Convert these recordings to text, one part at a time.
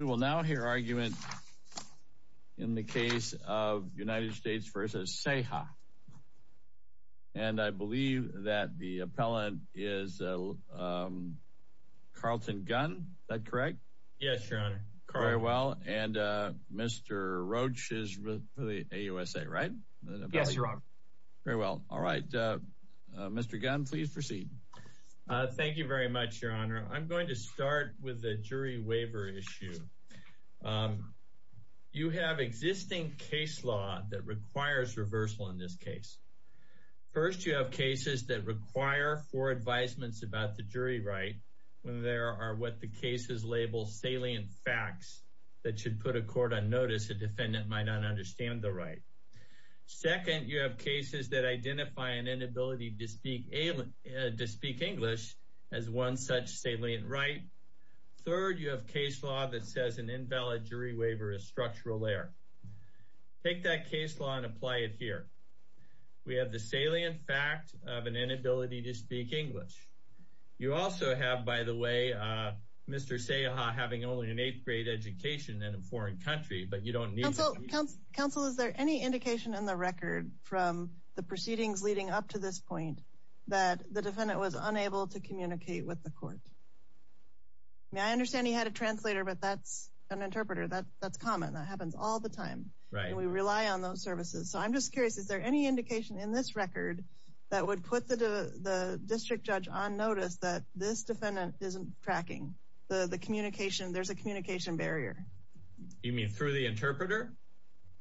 We will now hear argument in the case of United States v. Ceja and I believe that the appellant is Carlton Gunn, is that correct? Yes, your honor. Very well, and Mr. Roach is with the AUSA, right? Yes, your honor. Very well, all right. Mr. Gunn, please proceed. Thank you very much, your honor. I'm going to start with the jury waiver issue. You have existing case law that requires reversal in this case. First, you have cases that require four advisements about the jury right when there are what the cases label salient facts that should put a court on notice a defendant might understand the right. Second, you have cases that identify an inability to speak English as one such salient right. Third, you have case law that says an invalid jury waiver is structural there. Take that case law and apply it here. We have the salient fact of an inability to speak English. You also have, by the way, Mr. Ceja having only an eighth grade education in a council. Is there any indication in the record from the proceedings leading up to this point that the defendant was unable to communicate with the court? I understand he had a translator, but that's an interpreter. That's common. That happens all the time, and we rely on those services. So I'm just curious, is there any indication in this record that would put the district judge on notice that this defendant isn't tracking the communication? There's a interpreter?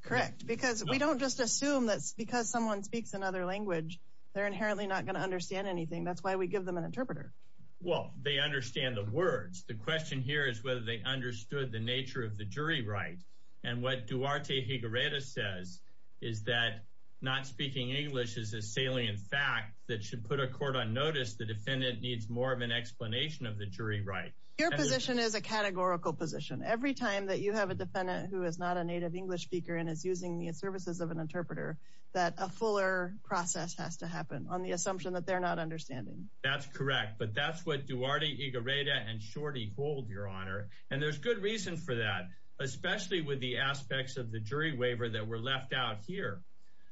Correct, because we don't just assume that because someone speaks another language, they're inherently not going to understand anything. That's why we give them an interpreter. Well, they understand the words. The question here is whether they understood the nature of the jury right. And what Duarte Higuereta says is that not speaking English is a salient fact that should put a court on notice. The defendant needs more of an explanation of the jury right. Your position is a categorical position. Every time that you have a defendant who is not a native English speaker and is using the services of an interpreter, that a fuller process has to happen on the assumption that they're not understanding. That's correct, but that's what Duarte Higuereta and Shorty hold, Your Honor. And there's good reason for that, especially with the aspects of the jury waiver that were left out here.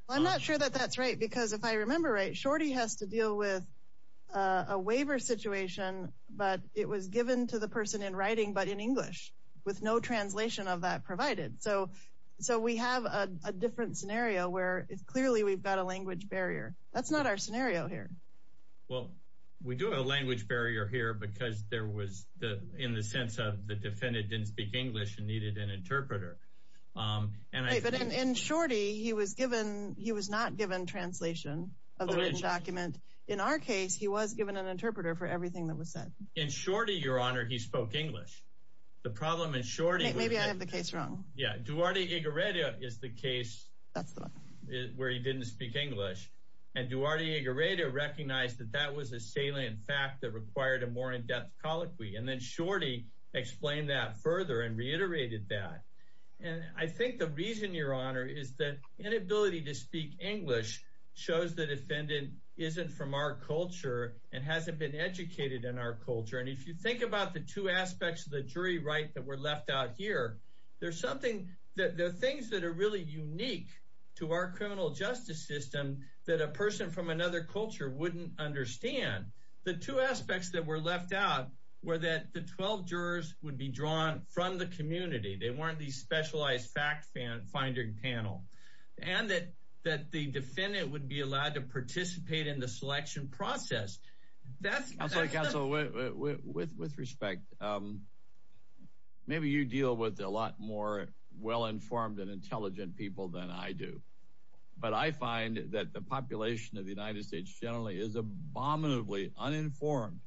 I'm not sure that that's right, because if I the person in writing but in English with no translation of that provided. So we have a different scenario where clearly we've got a language barrier. That's not our scenario here. Well, we do have a language barrier here because there was in the sense of the defendant didn't speak English and needed an interpreter. But in Shorty, he was not given translation of the written document. In our case, he was given an interpreter for everything that was said. In Shorty, Your Honor, he spoke English. The problem in Shorty... Maybe I have the case wrong. Yeah. Duarte Higuereta is the case where he didn't speak English. And Duarte Higuereta recognized that that was a salient fact that required a more in-depth colloquy. And then Shorty explained that further and reiterated that. And I think the reason, Your Honor, is that inability to speak English shows the defendant isn't from our culture and hasn't been educated in our culture. And if you think about the two aspects of the jury right that were left out here, there's something that the things that are really unique to our criminal justice system that a person from another culture wouldn't understand. The two aspects that were left out were that the 12 jurors would be drawn from the community. They weren't these specialized fact-finding panel. And that the defendant would be allowed to participate in the selection process. Counsel, with respect, maybe you deal with a lot more well-informed and intelligent people than I do. But I find that the population of the United States generally is abominably uninformed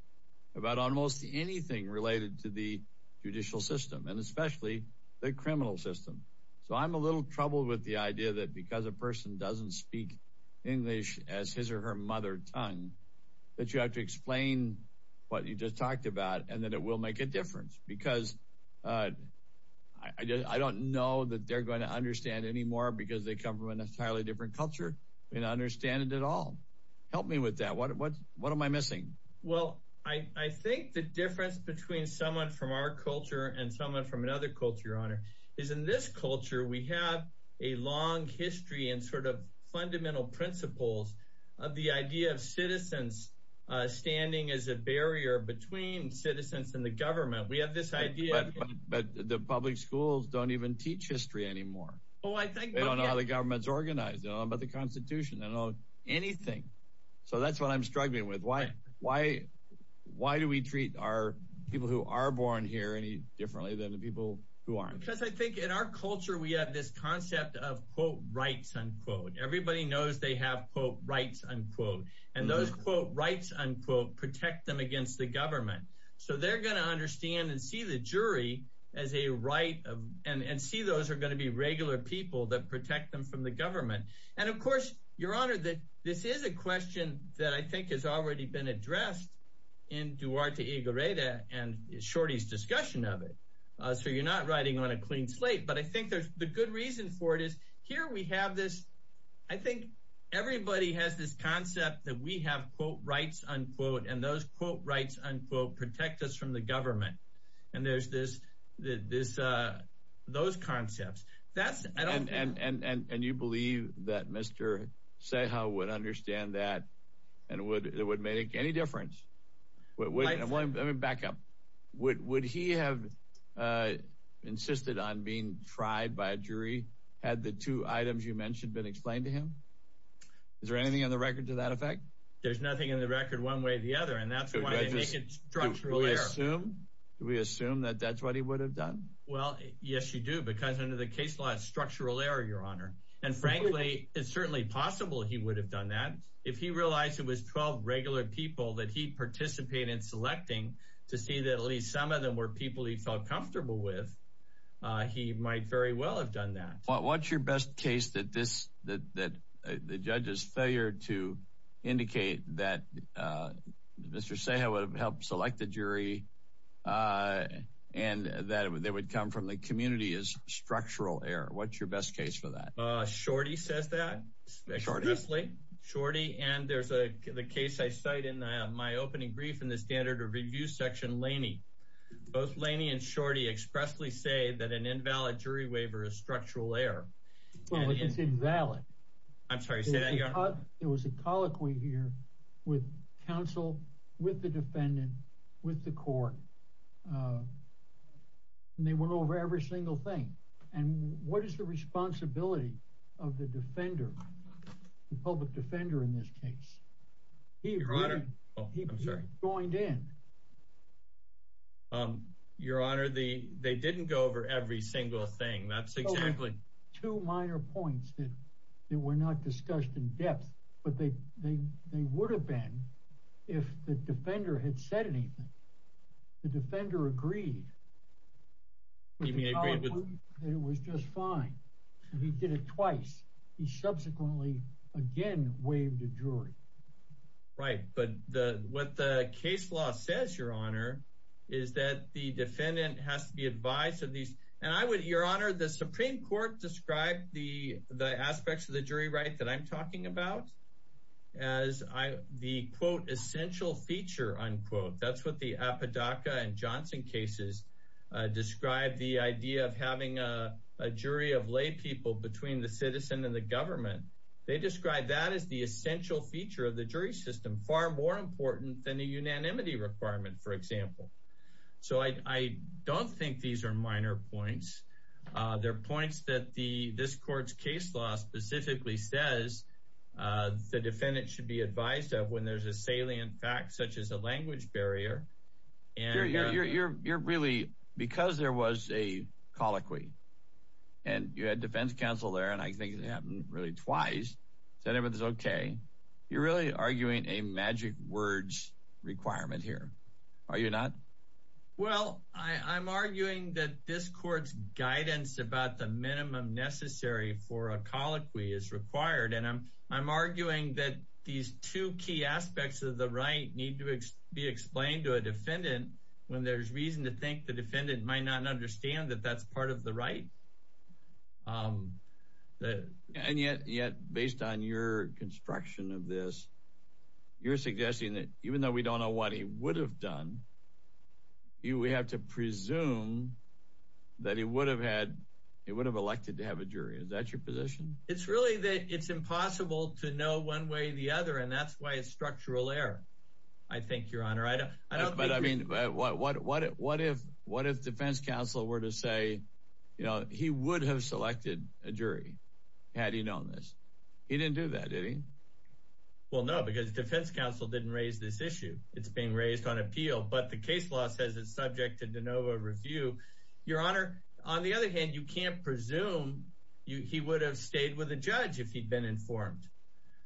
about almost anything related to the judicial system and especially the criminal system. So I'm a little troubled with the idea that because a person doesn't speak English as his or her mother tongue, that you have to explain what you just talked about and that it will make a difference. Because I don't know that they're going to understand anymore because they come from an entirely different culture and understand it at all. Help me with that. What am I missing? Well, I think the difference between someone from our culture and someone from another culture, Your Honor, is in this culture we have a long history and sort of principles of the idea of citizens standing as a barrier between citizens and the government. But the public schools don't even teach history anymore. They don't know how the government's organized. They don't know about the Constitution. They don't know anything. So that's what I'm struggling with. Why do we treat our people who are born here any differently than the people who aren't? Because I think in our culture we have this concept of, quote, rights, unquote. Everybody knows they have, quote, rights, unquote. And those, quote, rights, unquote, protect them against the government. So they're going to understand and see the jury as a right and see those are going to be regular people that protect them from the government. And, of course, Your Honor, this is a question that I think has already been addressed in Duarte y Goreta and Shorty's discussion of it. So you're not writing on a clean slate. But I think the good reason for it is here we have this. I think everybody has this concept that we have, quote, rights, unquote, and those, quote, rights, unquote, protect us from the government. And there's this, those concepts. That's, I don't. And you believe that Mr. Ceja would understand that and it would make any difference? Let me back up. Would he have insisted on being tried by a jury, had the two items you mentioned been explained to him? Is there anything on the record to that effect? There's nothing in the record one way or the other. And that's why I think it's structurally assumed. Do we assume that that's what he would have done? Well, yes, you do, because under the case law, structural error, Your Honor. And frankly, it's certainly possible he would have done that if he realized it was 12 regular people that he participated in selecting to see that at least some of them were people he felt comfortable with. He might very well have done that. What's your best case that this, that the judge's failure to indicate that Mr. Ceja would have helped select the jury and that they would come from the community is structural error. What's your best case for that? Shorty says that. Shorty. Shorty. And there's a case I cite in my opening brief in the standard review section, Laney. Both Laney and Shorty expressly say that an Well, it's invalid. I'm sorry. Say that again. It was a colloquy here with counsel, with the defendant, with the court. And they went over every single thing. And what is the responsibility of the defender, the public defender in this case? He joined in. Your Honor, the they didn't go over every single thing. That's exactly two minor points that they were not discussed in depth, but they they they would have been if the defender had said anything. The defender agreed. He agreed that it was just fine. He did it twice. He subsequently again waived a jury. Right. But what the case law says, Your Honor, is that the defendant has to be advised of these. And I would, Your Honor, the Supreme Court described the aspects of the jury right that I'm talking about as the quote, essential feature, unquote. That's what the Apodaca and Johnson cases describe the idea of having a jury of lay people between the citizen and the government. They describe that as the essential feature of the jury system, far more important than the unanimity requirement, for example. So I don't think these are minor points. They're points that the this court's case law specifically says the defendant should be advised of when there's a salient fact such as a language barrier. And you're really because there was a colloquy and you had defense counsel there. And I think it happened really twice. So everything's OK. You're really arguing a magic words requirement here, are you not? Well, I'm arguing that this court's guidance about the minimum necessary for a colloquy is required. And I'm I'm arguing that these two key aspects of the right need to be explained to a understand that that's part of the right. And yet, based on your construction of this, you're suggesting that even though we don't know what he would have done, you would have to presume that he would have had he would have elected to have a jury. Is that your position? It's really that it's impossible to know one way or the other. And that's why structural error. I think, Your Honor, I don't. But I mean, what what what what if what if defense counsel were to say, you know, he would have selected a jury had he known this? He didn't do that, did he? Well, no, because defense counsel didn't raise this issue. It's being raised on appeal. But the case law says it's subject to de novo review, Your Honor. On the other hand, you can't presume he would have stayed with the judge if he'd been informed.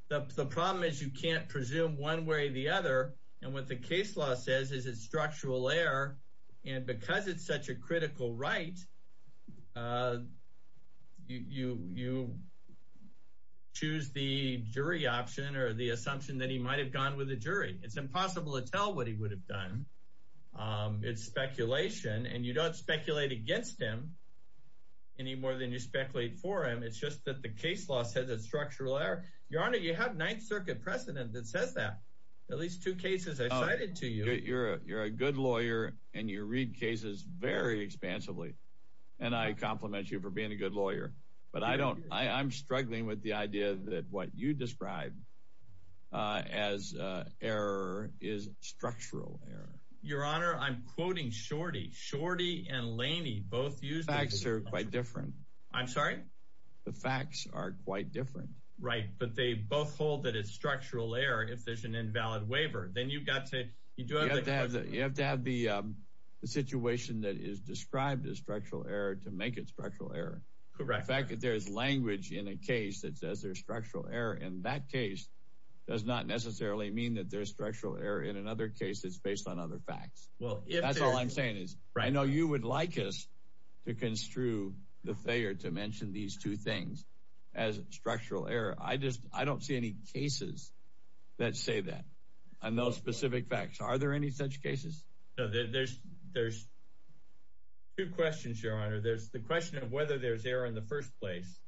The problem is you can't presume one way or the other. And what the case law says is it's structural error. And because it's such a critical right, you choose the jury option or the assumption that he might have gone with a jury. It's impossible to tell what he would have done. It's speculation. And you don't speculate against him any more than you speculate for him. It's just that the circuit precedent that says that at least two cases I cited to you, you're you're a good lawyer and you read cases very expansively. And I compliment you for being a good lawyer. But I don't I'm struggling with the idea that what you described as error is structural error. Your Honor, I'm quoting shorty shorty and Laney both use facts are quite different. I'm sorry. The facts are quite different. Right. But they both hold that it's structural error. If there's an invalid waiver, then you've got to you do have to have you have to have the situation that is described as structural error to make it structural error. Correct. Fact that there is language in a case that says there's structural error in that case does not necessarily mean that there's structural error in another case. It's based on other facts. Well, that's all I'm saying is I know you would like us to construe the failure to mention these two things as structural error. I just I don't see any cases that say that on those specific facts. Are there any such cases? There's there's two questions, Your Honor. There's the question of whether there's error in the first place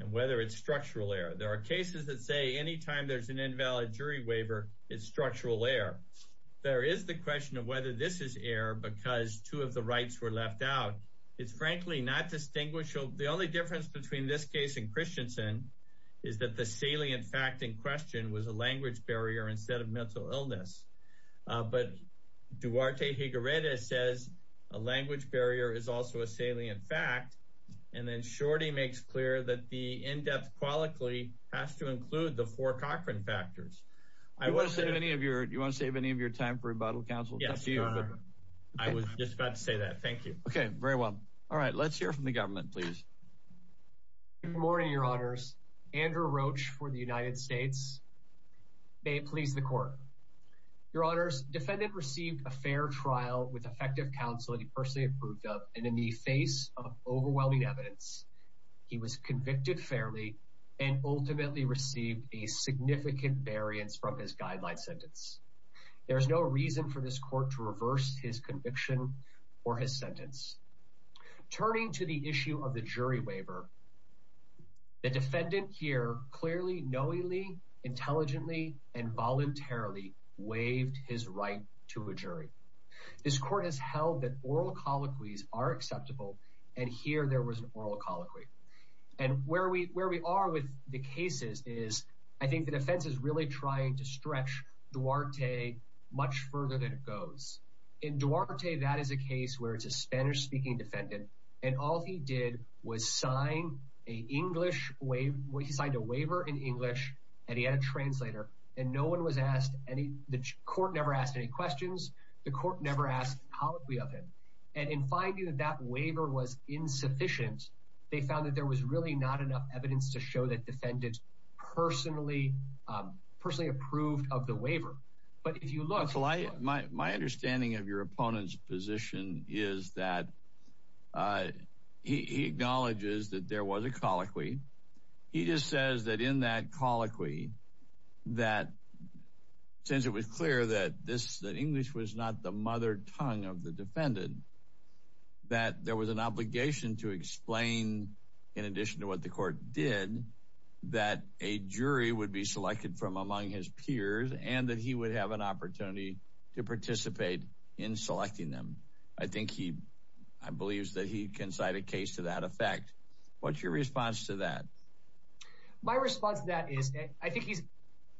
and whether it's structural error. There are cases that say anytime there's an invalid jury waiver, it's structural error. There is the question of whether this is error because two of the rights were left out. It's frankly not distinguishable. The only difference between this case and Christiansen is that the salient fact in question was a language barrier instead of mental illness. But Duarte Higuerita says a language barrier is also a salient fact. And then Shorty makes clear that the in-depth quality has to include the four Cochran factors. I want to say any of your you want to save any of your time for rebuttal, counsel? Yes, Your Honor. I was just about to say that. Thank you. Okay, very well. All right. Let's hear from the government, please. Good morning, Your Honors. Andrew Roach for the United States. May it please the court. Your Honors, defendant received a fair trial with effective counsel he personally approved of and in the face of overwhelming evidence, he was convicted fairly and ultimately received a significant variance from his defense. There was no reason for this court to reverse his conviction or his sentence. Turning to the issue of the jury waiver, the defendant here clearly, knowingly, intelligently, and voluntarily waived his right to a jury. This court has held that oral colloquies are acceptable and here there was an oral colloquy. And where we are with the cases is I think the defense is really trying to stretch Duarte much further than it goes. In Duarte, that is a case where it's a Spanish-speaking defendant and all he did was sign an English waiver. He signed a waiver in English and he had a translator and no one was asked any, the court never asked any questions, the court never asked a colloquy of him. And in finding that that waiver was insufficient, they found that there was really not enough evidence to show that defendants personally approved of the waiver. But if you look... My understanding of your opponent's position is that he acknowledges that there was a colloquy. He just says that in that colloquy, that since it was clear that this, that English was not the mother tongue of the defendant, that there was an obligation to explain in addition to what the court did, that a jury would be selected from among his peers and that he would have an opportunity to participate in selecting them. I think he, I believe that he can cite a case to that effect. What's your response to that? My response to that is I think he's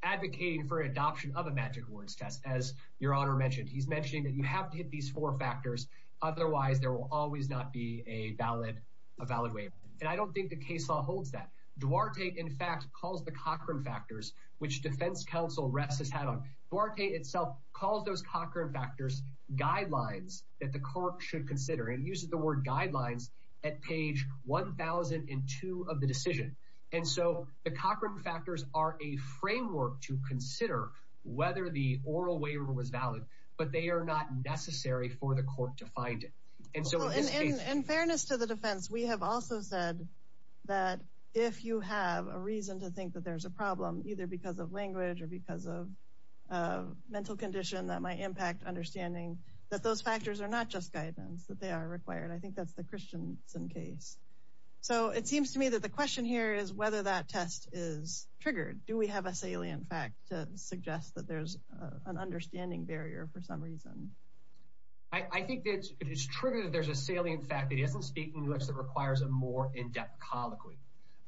advocating for adoption of a magic words test, as your honor mentioned. He's mentioning that you have to hit these four factors, otherwise there will always not be a valid waiver. And I don't think the case law holds that. Duarte, in fact, calls the Cochran factors, which defense council reps has had on. Duarte itself calls those Cochran factors guidelines that the court should consider and uses the word guidelines at page 1002 of the decision. And so the Cochran factors are a necessary for the court to find it. And so in fairness to the defense, we have also said that if you have a reason to think that there's a problem, either because of language or because of a mental condition that might impact understanding that those factors are not just guidance, that they are required. I think that's the Christiansen case. So it seems to me that the question here is whether that test is triggered. Do we have a salient fact to suggest that there's an understanding barrier for some reason? I think that it is true that there's a salient fact that isn't speaking English that requires a more in-depth colloquy.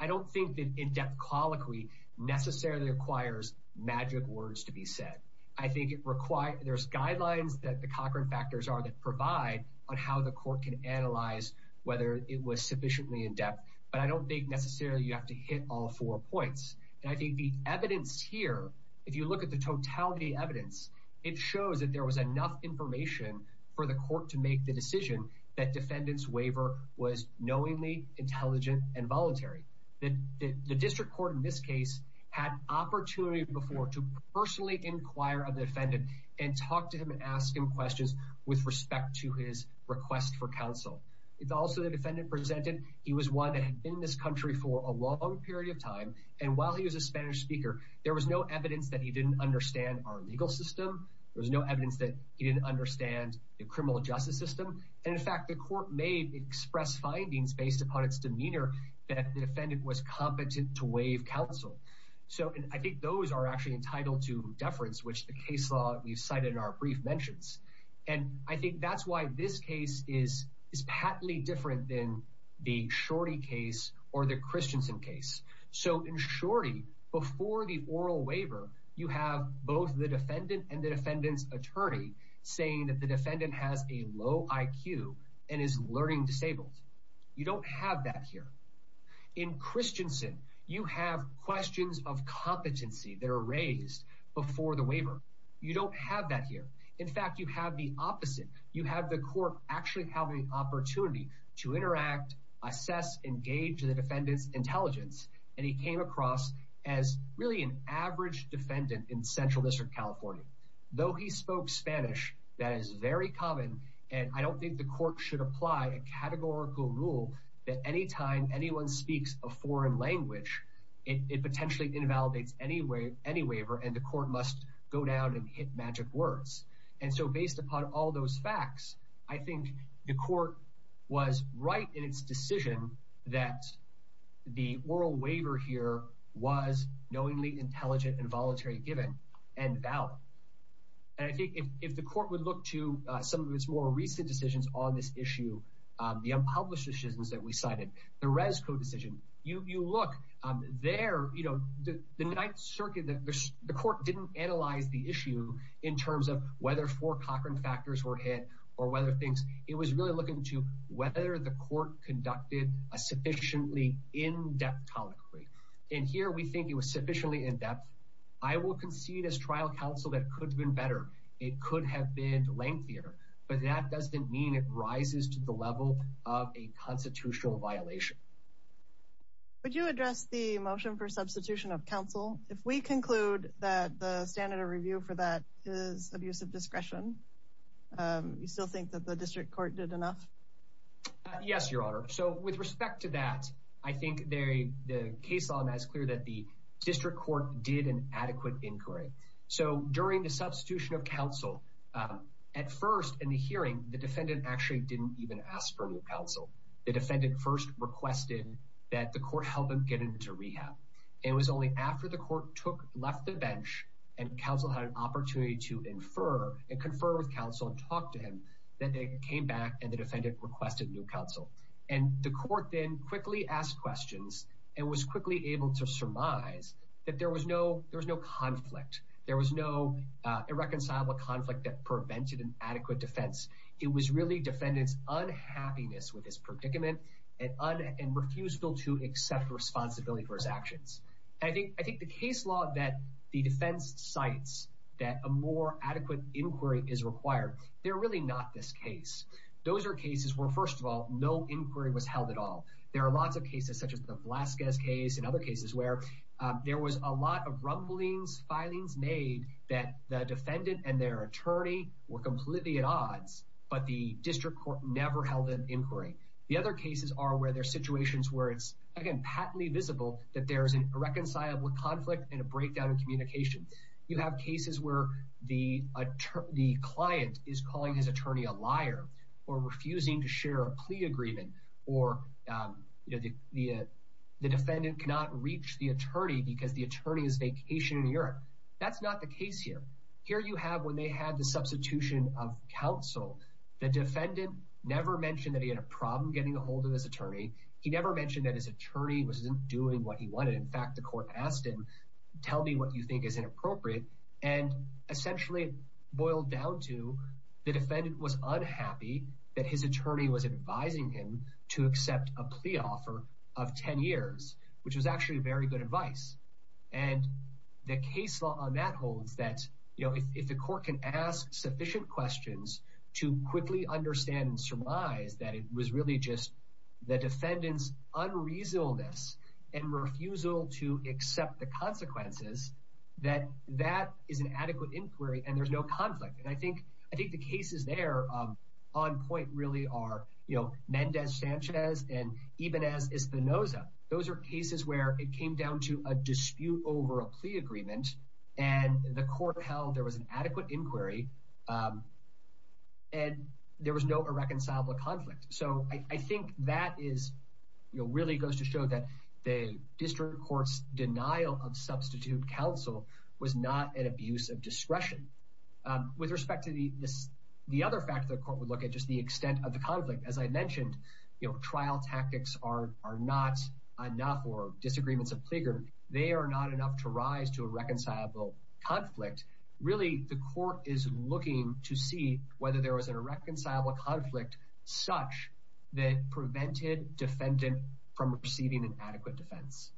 I don't think that in-depth colloquy necessarily requires magic words to be said. I think it requires, there's guidelines that the Cochran factors are that provide on how the court can analyze whether it was sufficiently in-depth. But I don't think necessarily you have to hit all four points. And I think the evidence here, if you look at the totality evidence, it shows that there was enough information for the court to make the decision that defendant's waiver was knowingly intelligent and voluntary. The district court in this case had opportunity before to personally inquire of the defendant and talk to him and ask him questions with respect to his request for counsel. It's also the defendant presented. He was one that had been in this country for a long period of time. And while he was a Spanish speaker, there was no evidence that he didn't understand our legal system. There was no evidence that he didn't understand the criminal justice system. And in fact, the court may express findings based upon its demeanor that the defendant was competent to waive counsel. So I think those are actually entitled to deference, which the case law we've cited in our brief mentions. And I think that's why this case is patently different than the Shorty case or the Christensen case. So in Shorty, before the oral waiver, you have both the defendant and the defendant's attorney saying that the defendant has a low IQ and is learning disabled. You don't have that here. In Christensen, you have questions of competency that are raised before the waiver. You don't have that here. In fact, you have the opposite. You have the court actually have the opportunity to interact, assess, engage the defendant's intelligence. And he came across as really an average defendant in Central District, California. Though he spoke Spanish, that is very common. And I don't think the court should apply a categorical rule that anytime anyone speaks a foreign language, it potentially invalidates any waiver and the court must go down and hit magic words. And so based upon all those facts, I think the court was right in its decision that the oral waiver here was knowingly intelligent and voluntary given and valid. And I think if the court would look to some of its more recent decisions on this issue, the unpublished decisions that we cited, the Resco decision, you look there, you know, the Ninth Circuit, the court didn't analyze the issue in terms of whether four other things. It was really looking to whether the court conducted a sufficiently in-depth colloquy. And here we think it was sufficiently in-depth. I will concede as trial counsel that could have been better. It could have been lengthier, but that doesn't mean it rises to the level of a constitutional violation. Would you address the motion for substitution of counsel? If we conclude that the standard of review for that is abuse of discretion, you still think that the district court did enough? Yes, Your Honor. So with respect to that, I think the case law is clear that the district court did an adequate inquiry. So during the substitution of counsel, at first in the hearing, the defendant actually didn't even ask for any counsel. The defendant first requested that the court help him get into rehab. It was only after the court left the bench and counsel had an opportunity to infer and confer with counsel and talk to him that they came back and the defendant requested new counsel. And the court then quickly asked questions and was quickly able to surmise that there was no conflict. There was no irreconcilable conflict that prevented an adequate defense. It was really defendant's unhappiness with his predicament and refusal to accept responsibility for his actions. I think the case law that the defense cites that a more adequate inquiry is required, they're really not this case. Those are cases where, first of all, no inquiry was held at all. There are lots of cases such as the Velazquez case and other cases where there was a lot of rumblings, filings made that the defendant and their attorney were completely at odds, but the district court never held an inquiry. The other cases are where there are situations where patently visible that there is an irreconcilable conflict and a breakdown in communication. You have cases where the client is calling his attorney a liar or refusing to share a plea agreement or the defendant cannot reach the attorney because the attorney is vacationing in Europe. That's not the case here. Here you have when they had the substitution of counsel, the defendant never mentioned that he had a problem getting a hold of his attorney. He never mentioned that his attorney wasn't doing what he wanted. In fact, the court asked him, tell me what you think is inappropriate. Essentially, it boiled down to the defendant was unhappy that his attorney was advising him to accept a plea offer of 10 years, which was actually very good advice. The case law on that holds that if the court can ask sufficient questions to quickly understand and surmise that it was really just the defendant's unreasonableness and refusal to accept the consequences, that that is an adequate inquiry and there's no conflict. I think the cases there on point really are Mendez-Sanchez and even as Espinoza. Those are cases where it came down to a dispute over a plea agreement and the court held there was an adequate inquiry and there was no irreconcilable conflict. So I think that really goes to show that the district court's denial of substitute counsel was not an abuse of discretion. With respect to the other factor, the court would look at just the extent of the conflict. As I mentioned, trial tactics are not enough or disagreements are bigger. They are not enough to rise to a reconcilable conflict. Really, the court is looking to see whether there was an irreconcilable conflict such that prevented defendant from receiving an adequate defense.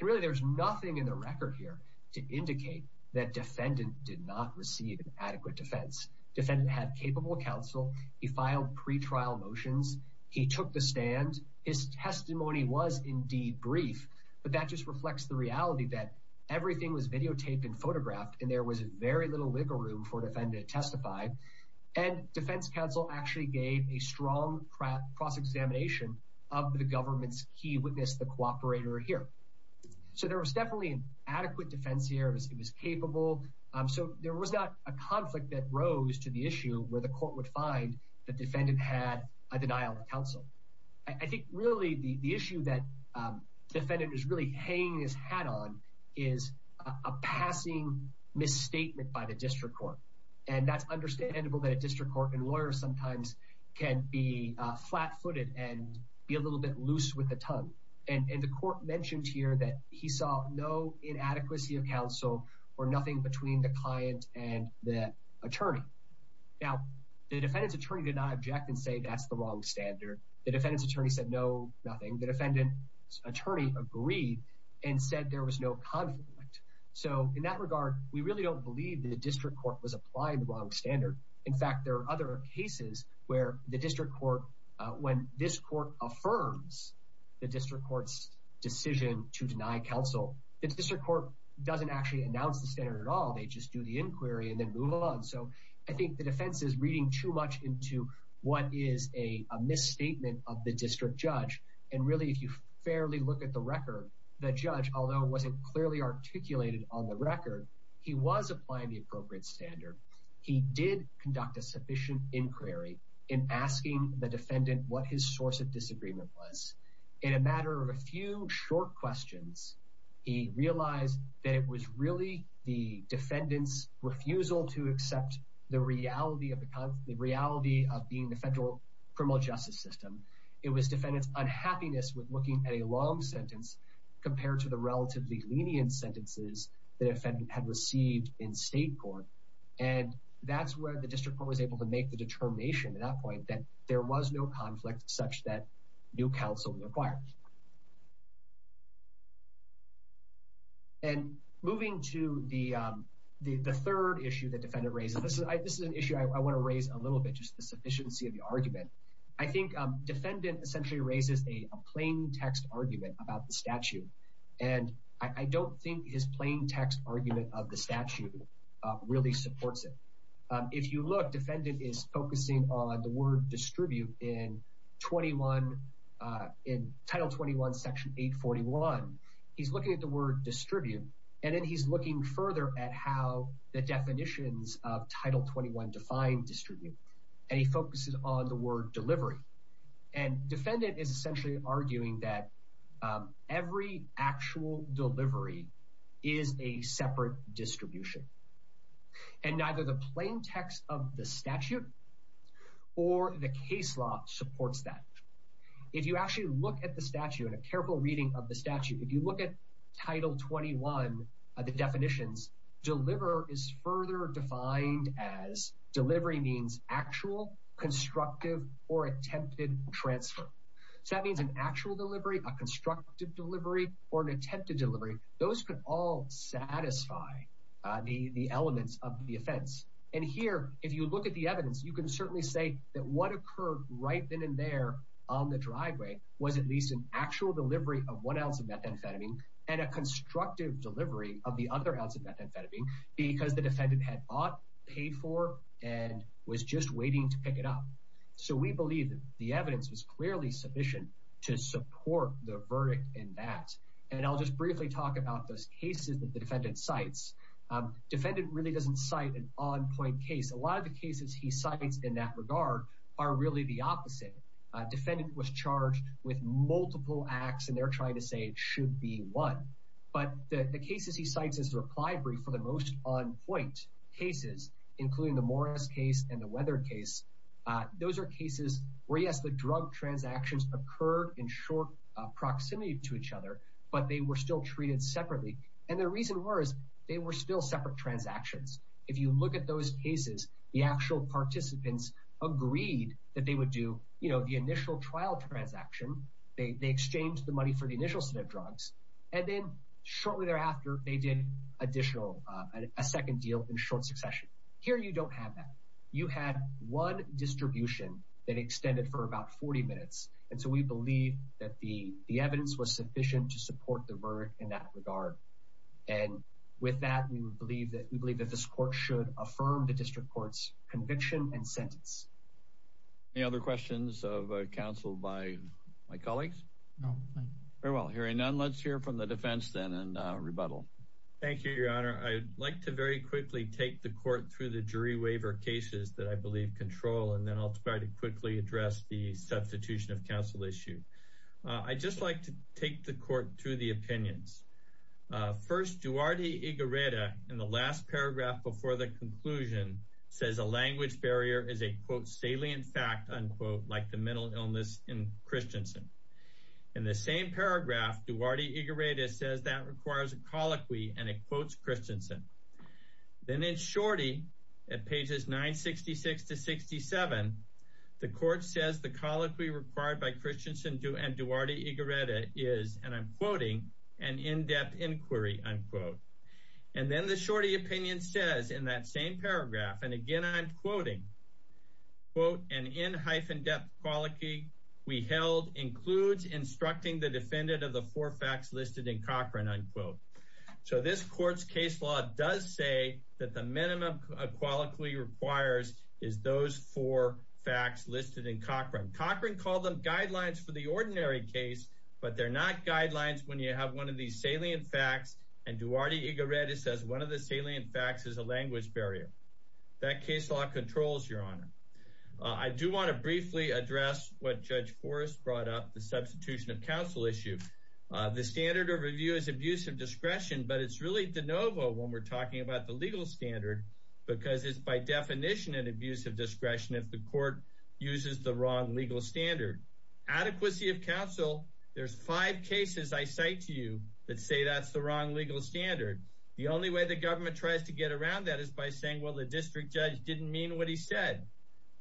Really, there's nothing in the record here to indicate that defendant did not receive an adequate defense. Defendant had capable counsel. He filed pre-trial motions. He took the stand. His testimony was indeed brief, but that just reflects the reality that everything was videotaped and photographed and there was very little wiggle room for defendant to testify. And defense counsel actually gave a strong cross-examination of the government's key witness, the cooperator here. So there was definitely an adequate defense here. It was capable. So there was not a conflict that rose to the issue where the court would find the defendant had a denial of counsel. I think really the issue that defendant is really hanging his hat on is a passing misstatement by the district court. And that's understandable that a district court and lawyers sometimes can be flat-footed and be a little bit loose with the tongue. And the court mentioned here that he saw no inadequacy of counsel or nothing between the client and the attorney. Now, the defendant's attorney did not object and say that's the wrong standard. The defendant's attorney said no, nothing. The defendant's attorney agreed and said there was no conflict. So in that regard, we really don't believe the district court was applying the wrong standard. In fact, there are other cases where the district court, when this court affirms the district court's decision to deny counsel, the district court doesn't actually announce the standard at all. They just do the inquiry and then move on. So I think the defense is reading too much into what is a misstatement of the district judge. And really, if you fairly look at the record, the judge, although it wasn't clearly articulated on the record, he was applying the appropriate standard. He did conduct a sufficient inquiry in asking the defendant what his source of refusal to accept the reality of being the federal criminal justice system. It was defendant's unhappiness with looking at a long sentence compared to the relatively lenient sentences the defendant had received in state court. And that's where the district court was able to make the determination at that point that there was no conflict such that new counsel required. And moving to the third issue that defendant raises, this is an issue I want to raise a little bit, just the sufficiency of the argument. I think defendant essentially raises a plain text argument about the statute. And I don't think his plain text argument of the statute really supports it. If you look, defendant is focusing on the word distribute in Title 21, Section 841. He's looking at the word distribute, and then he's looking further at how the definitions of Title 21 define distribute. And he focuses on the word delivery. And defendant is essentially arguing that every actual delivery is a separate distribution. And neither the plain text law supports that. If you actually look at the statute, in a careful reading of the statute, if you look at Title 21, the definitions, deliver is further defined as delivery means actual, constructive, or attempted transfer. So that means an actual delivery, a constructive delivery, or an attempted delivery. Those could all satisfy the elements of the offense. And here, if you look at the evidence, you can certainly say that what occurred right then and there on the driveway was at least an actual delivery of one ounce of methamphetamine and a constructive delivery of the other ounce of methamphetamine because the defendant had bought, paid for, and was just waiting to pick it up. So we believe the evidence was clearly sufficient to support the verdict in that. And I'll just briefly talk about those cases that the defendant cites. Defendant really doesn't cite an on-point case. A lot of the cases he cites in that regard are really the opposite. Defendant was charged with multiple acts, and they're trying to say it should be one. But the cases he cites as a reply brief for the most on-point cases, including the Morris case and the Weatherd case, those are cases where, yes, the drug transactions occurred in short proximity to each other, but they were still treated separately. And the reason was they were still separate transactions. If you look at those cases, the actual participants agreed that they would do, you know, the initial trial transaction. They exchanged the money for the initial set of drugs. And then shortly thereafter, they did additional, a second deal in short succession. Here, you don't have that. You had one distribution that extended for about 40 minutes. And so we believe that the evidence was sufficient to support the verdict in that regard. And with that, we believe that we believe that this court should affirm the district court's conviction and sentence. Any other questions of counsel by my colleagues? No, thank you. Very well. Hearing none, let's hear from the defense then and rebuttal. Thank you, Your Honor. I'd like to very quickly take the court through the jury waiver cases that I believe control, and then I'll try to quickly address the substitution of counsel issue. I'd just like to take the court through the opinions. First, Duarte Igureta, in the last paragraph before the conclusion, says a language barrier is a, quote, salient fact, unquote, like the mental illness in Christensen. In the same paragraph, Duarte Igureta says that requires a colloquy, and it quotes Christensen. Then in shorty, at pages 966 to 67, the court says the colloquy required by Duarte Igureta is, and I'm quoting, an in-depth inquiry, unquote. And then the shorty opinion says in that same paragraph, and again I'm quoting, quote, an in-depth colloquy we held includes instructing the defendant of the four facts listed in Cochran, unquote. So this court's case law does say that the minimum a colloquy requires is those four facts listed in Cochran. Cochran called them guidelines for the ordinary case, but they're not guidelines when you have one of these salient facts, and Duarte Igureta says one of the salient facts is a language barrier. That case law controls, Your Honor. I do want to briefly address what Judge Forrest brought up, the substitution of counsel issue. The standard of review is abuse of discretion, but it's really de novo when we're talking about the legal standard, because it's by definition an abuse of discretion if the court uses the wrong legal standard. Adequacy of counsel, there's five cases I cite to you that say that's the wrong legal standard. The only way the government tries to get around that is by saying, well, the district judge didn't mean what he said.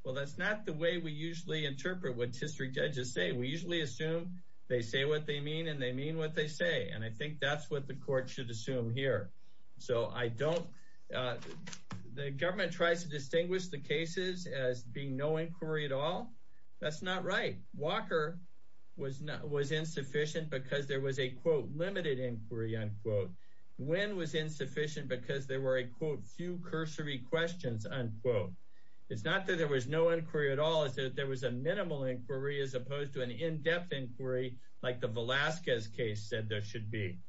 Well, that's not the way we usually interpret what district judges say. We usually assume they say what they mean and they mean what they say, and I think that's what the court should assume here. So I don't, the government tries to distinguish the cases as being no inquiry at all. That's not right. Walker was insufficient because there was a, quote, limited inquiry, unquote. Nguyen was insufficient because there were a, quote, few cursory questions, unquote. It's not that there was no inquiry at all, it's that there was a minimal inquiry as opposed to an in-depth inquiry like the Velasquez case said there should be.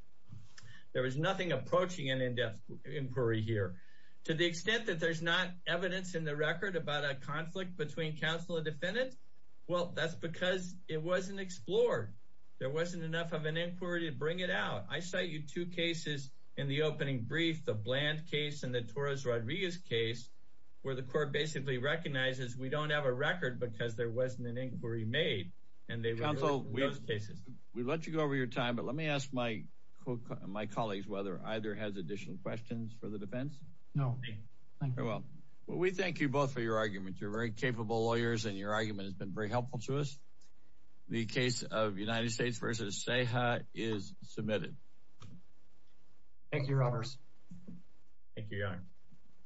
There was nothing approaching an in-depth inquiry here. To the extent that there's not evidence in the record about a conflict between counsel and defendant, well, that's because it wasn't explored. There wasn't enough of an inquiry to bring it out. I cite you two cases in the opening brief, the Bland case and the Torres Rodriguez case, where the court basically recognizes we don't have a record because there wasn't an inquiry made. Counsel, we've let you go over your time, but let me ask my colleagues whether either has additional questions for the defense? No, thank you. Well, we thank you both for your arguments. You're very capable lawyers and your argument has been very helpful to us. The case of United States v. CEJA is submitted. Thank you, Roberts. Thank you, Your Honor.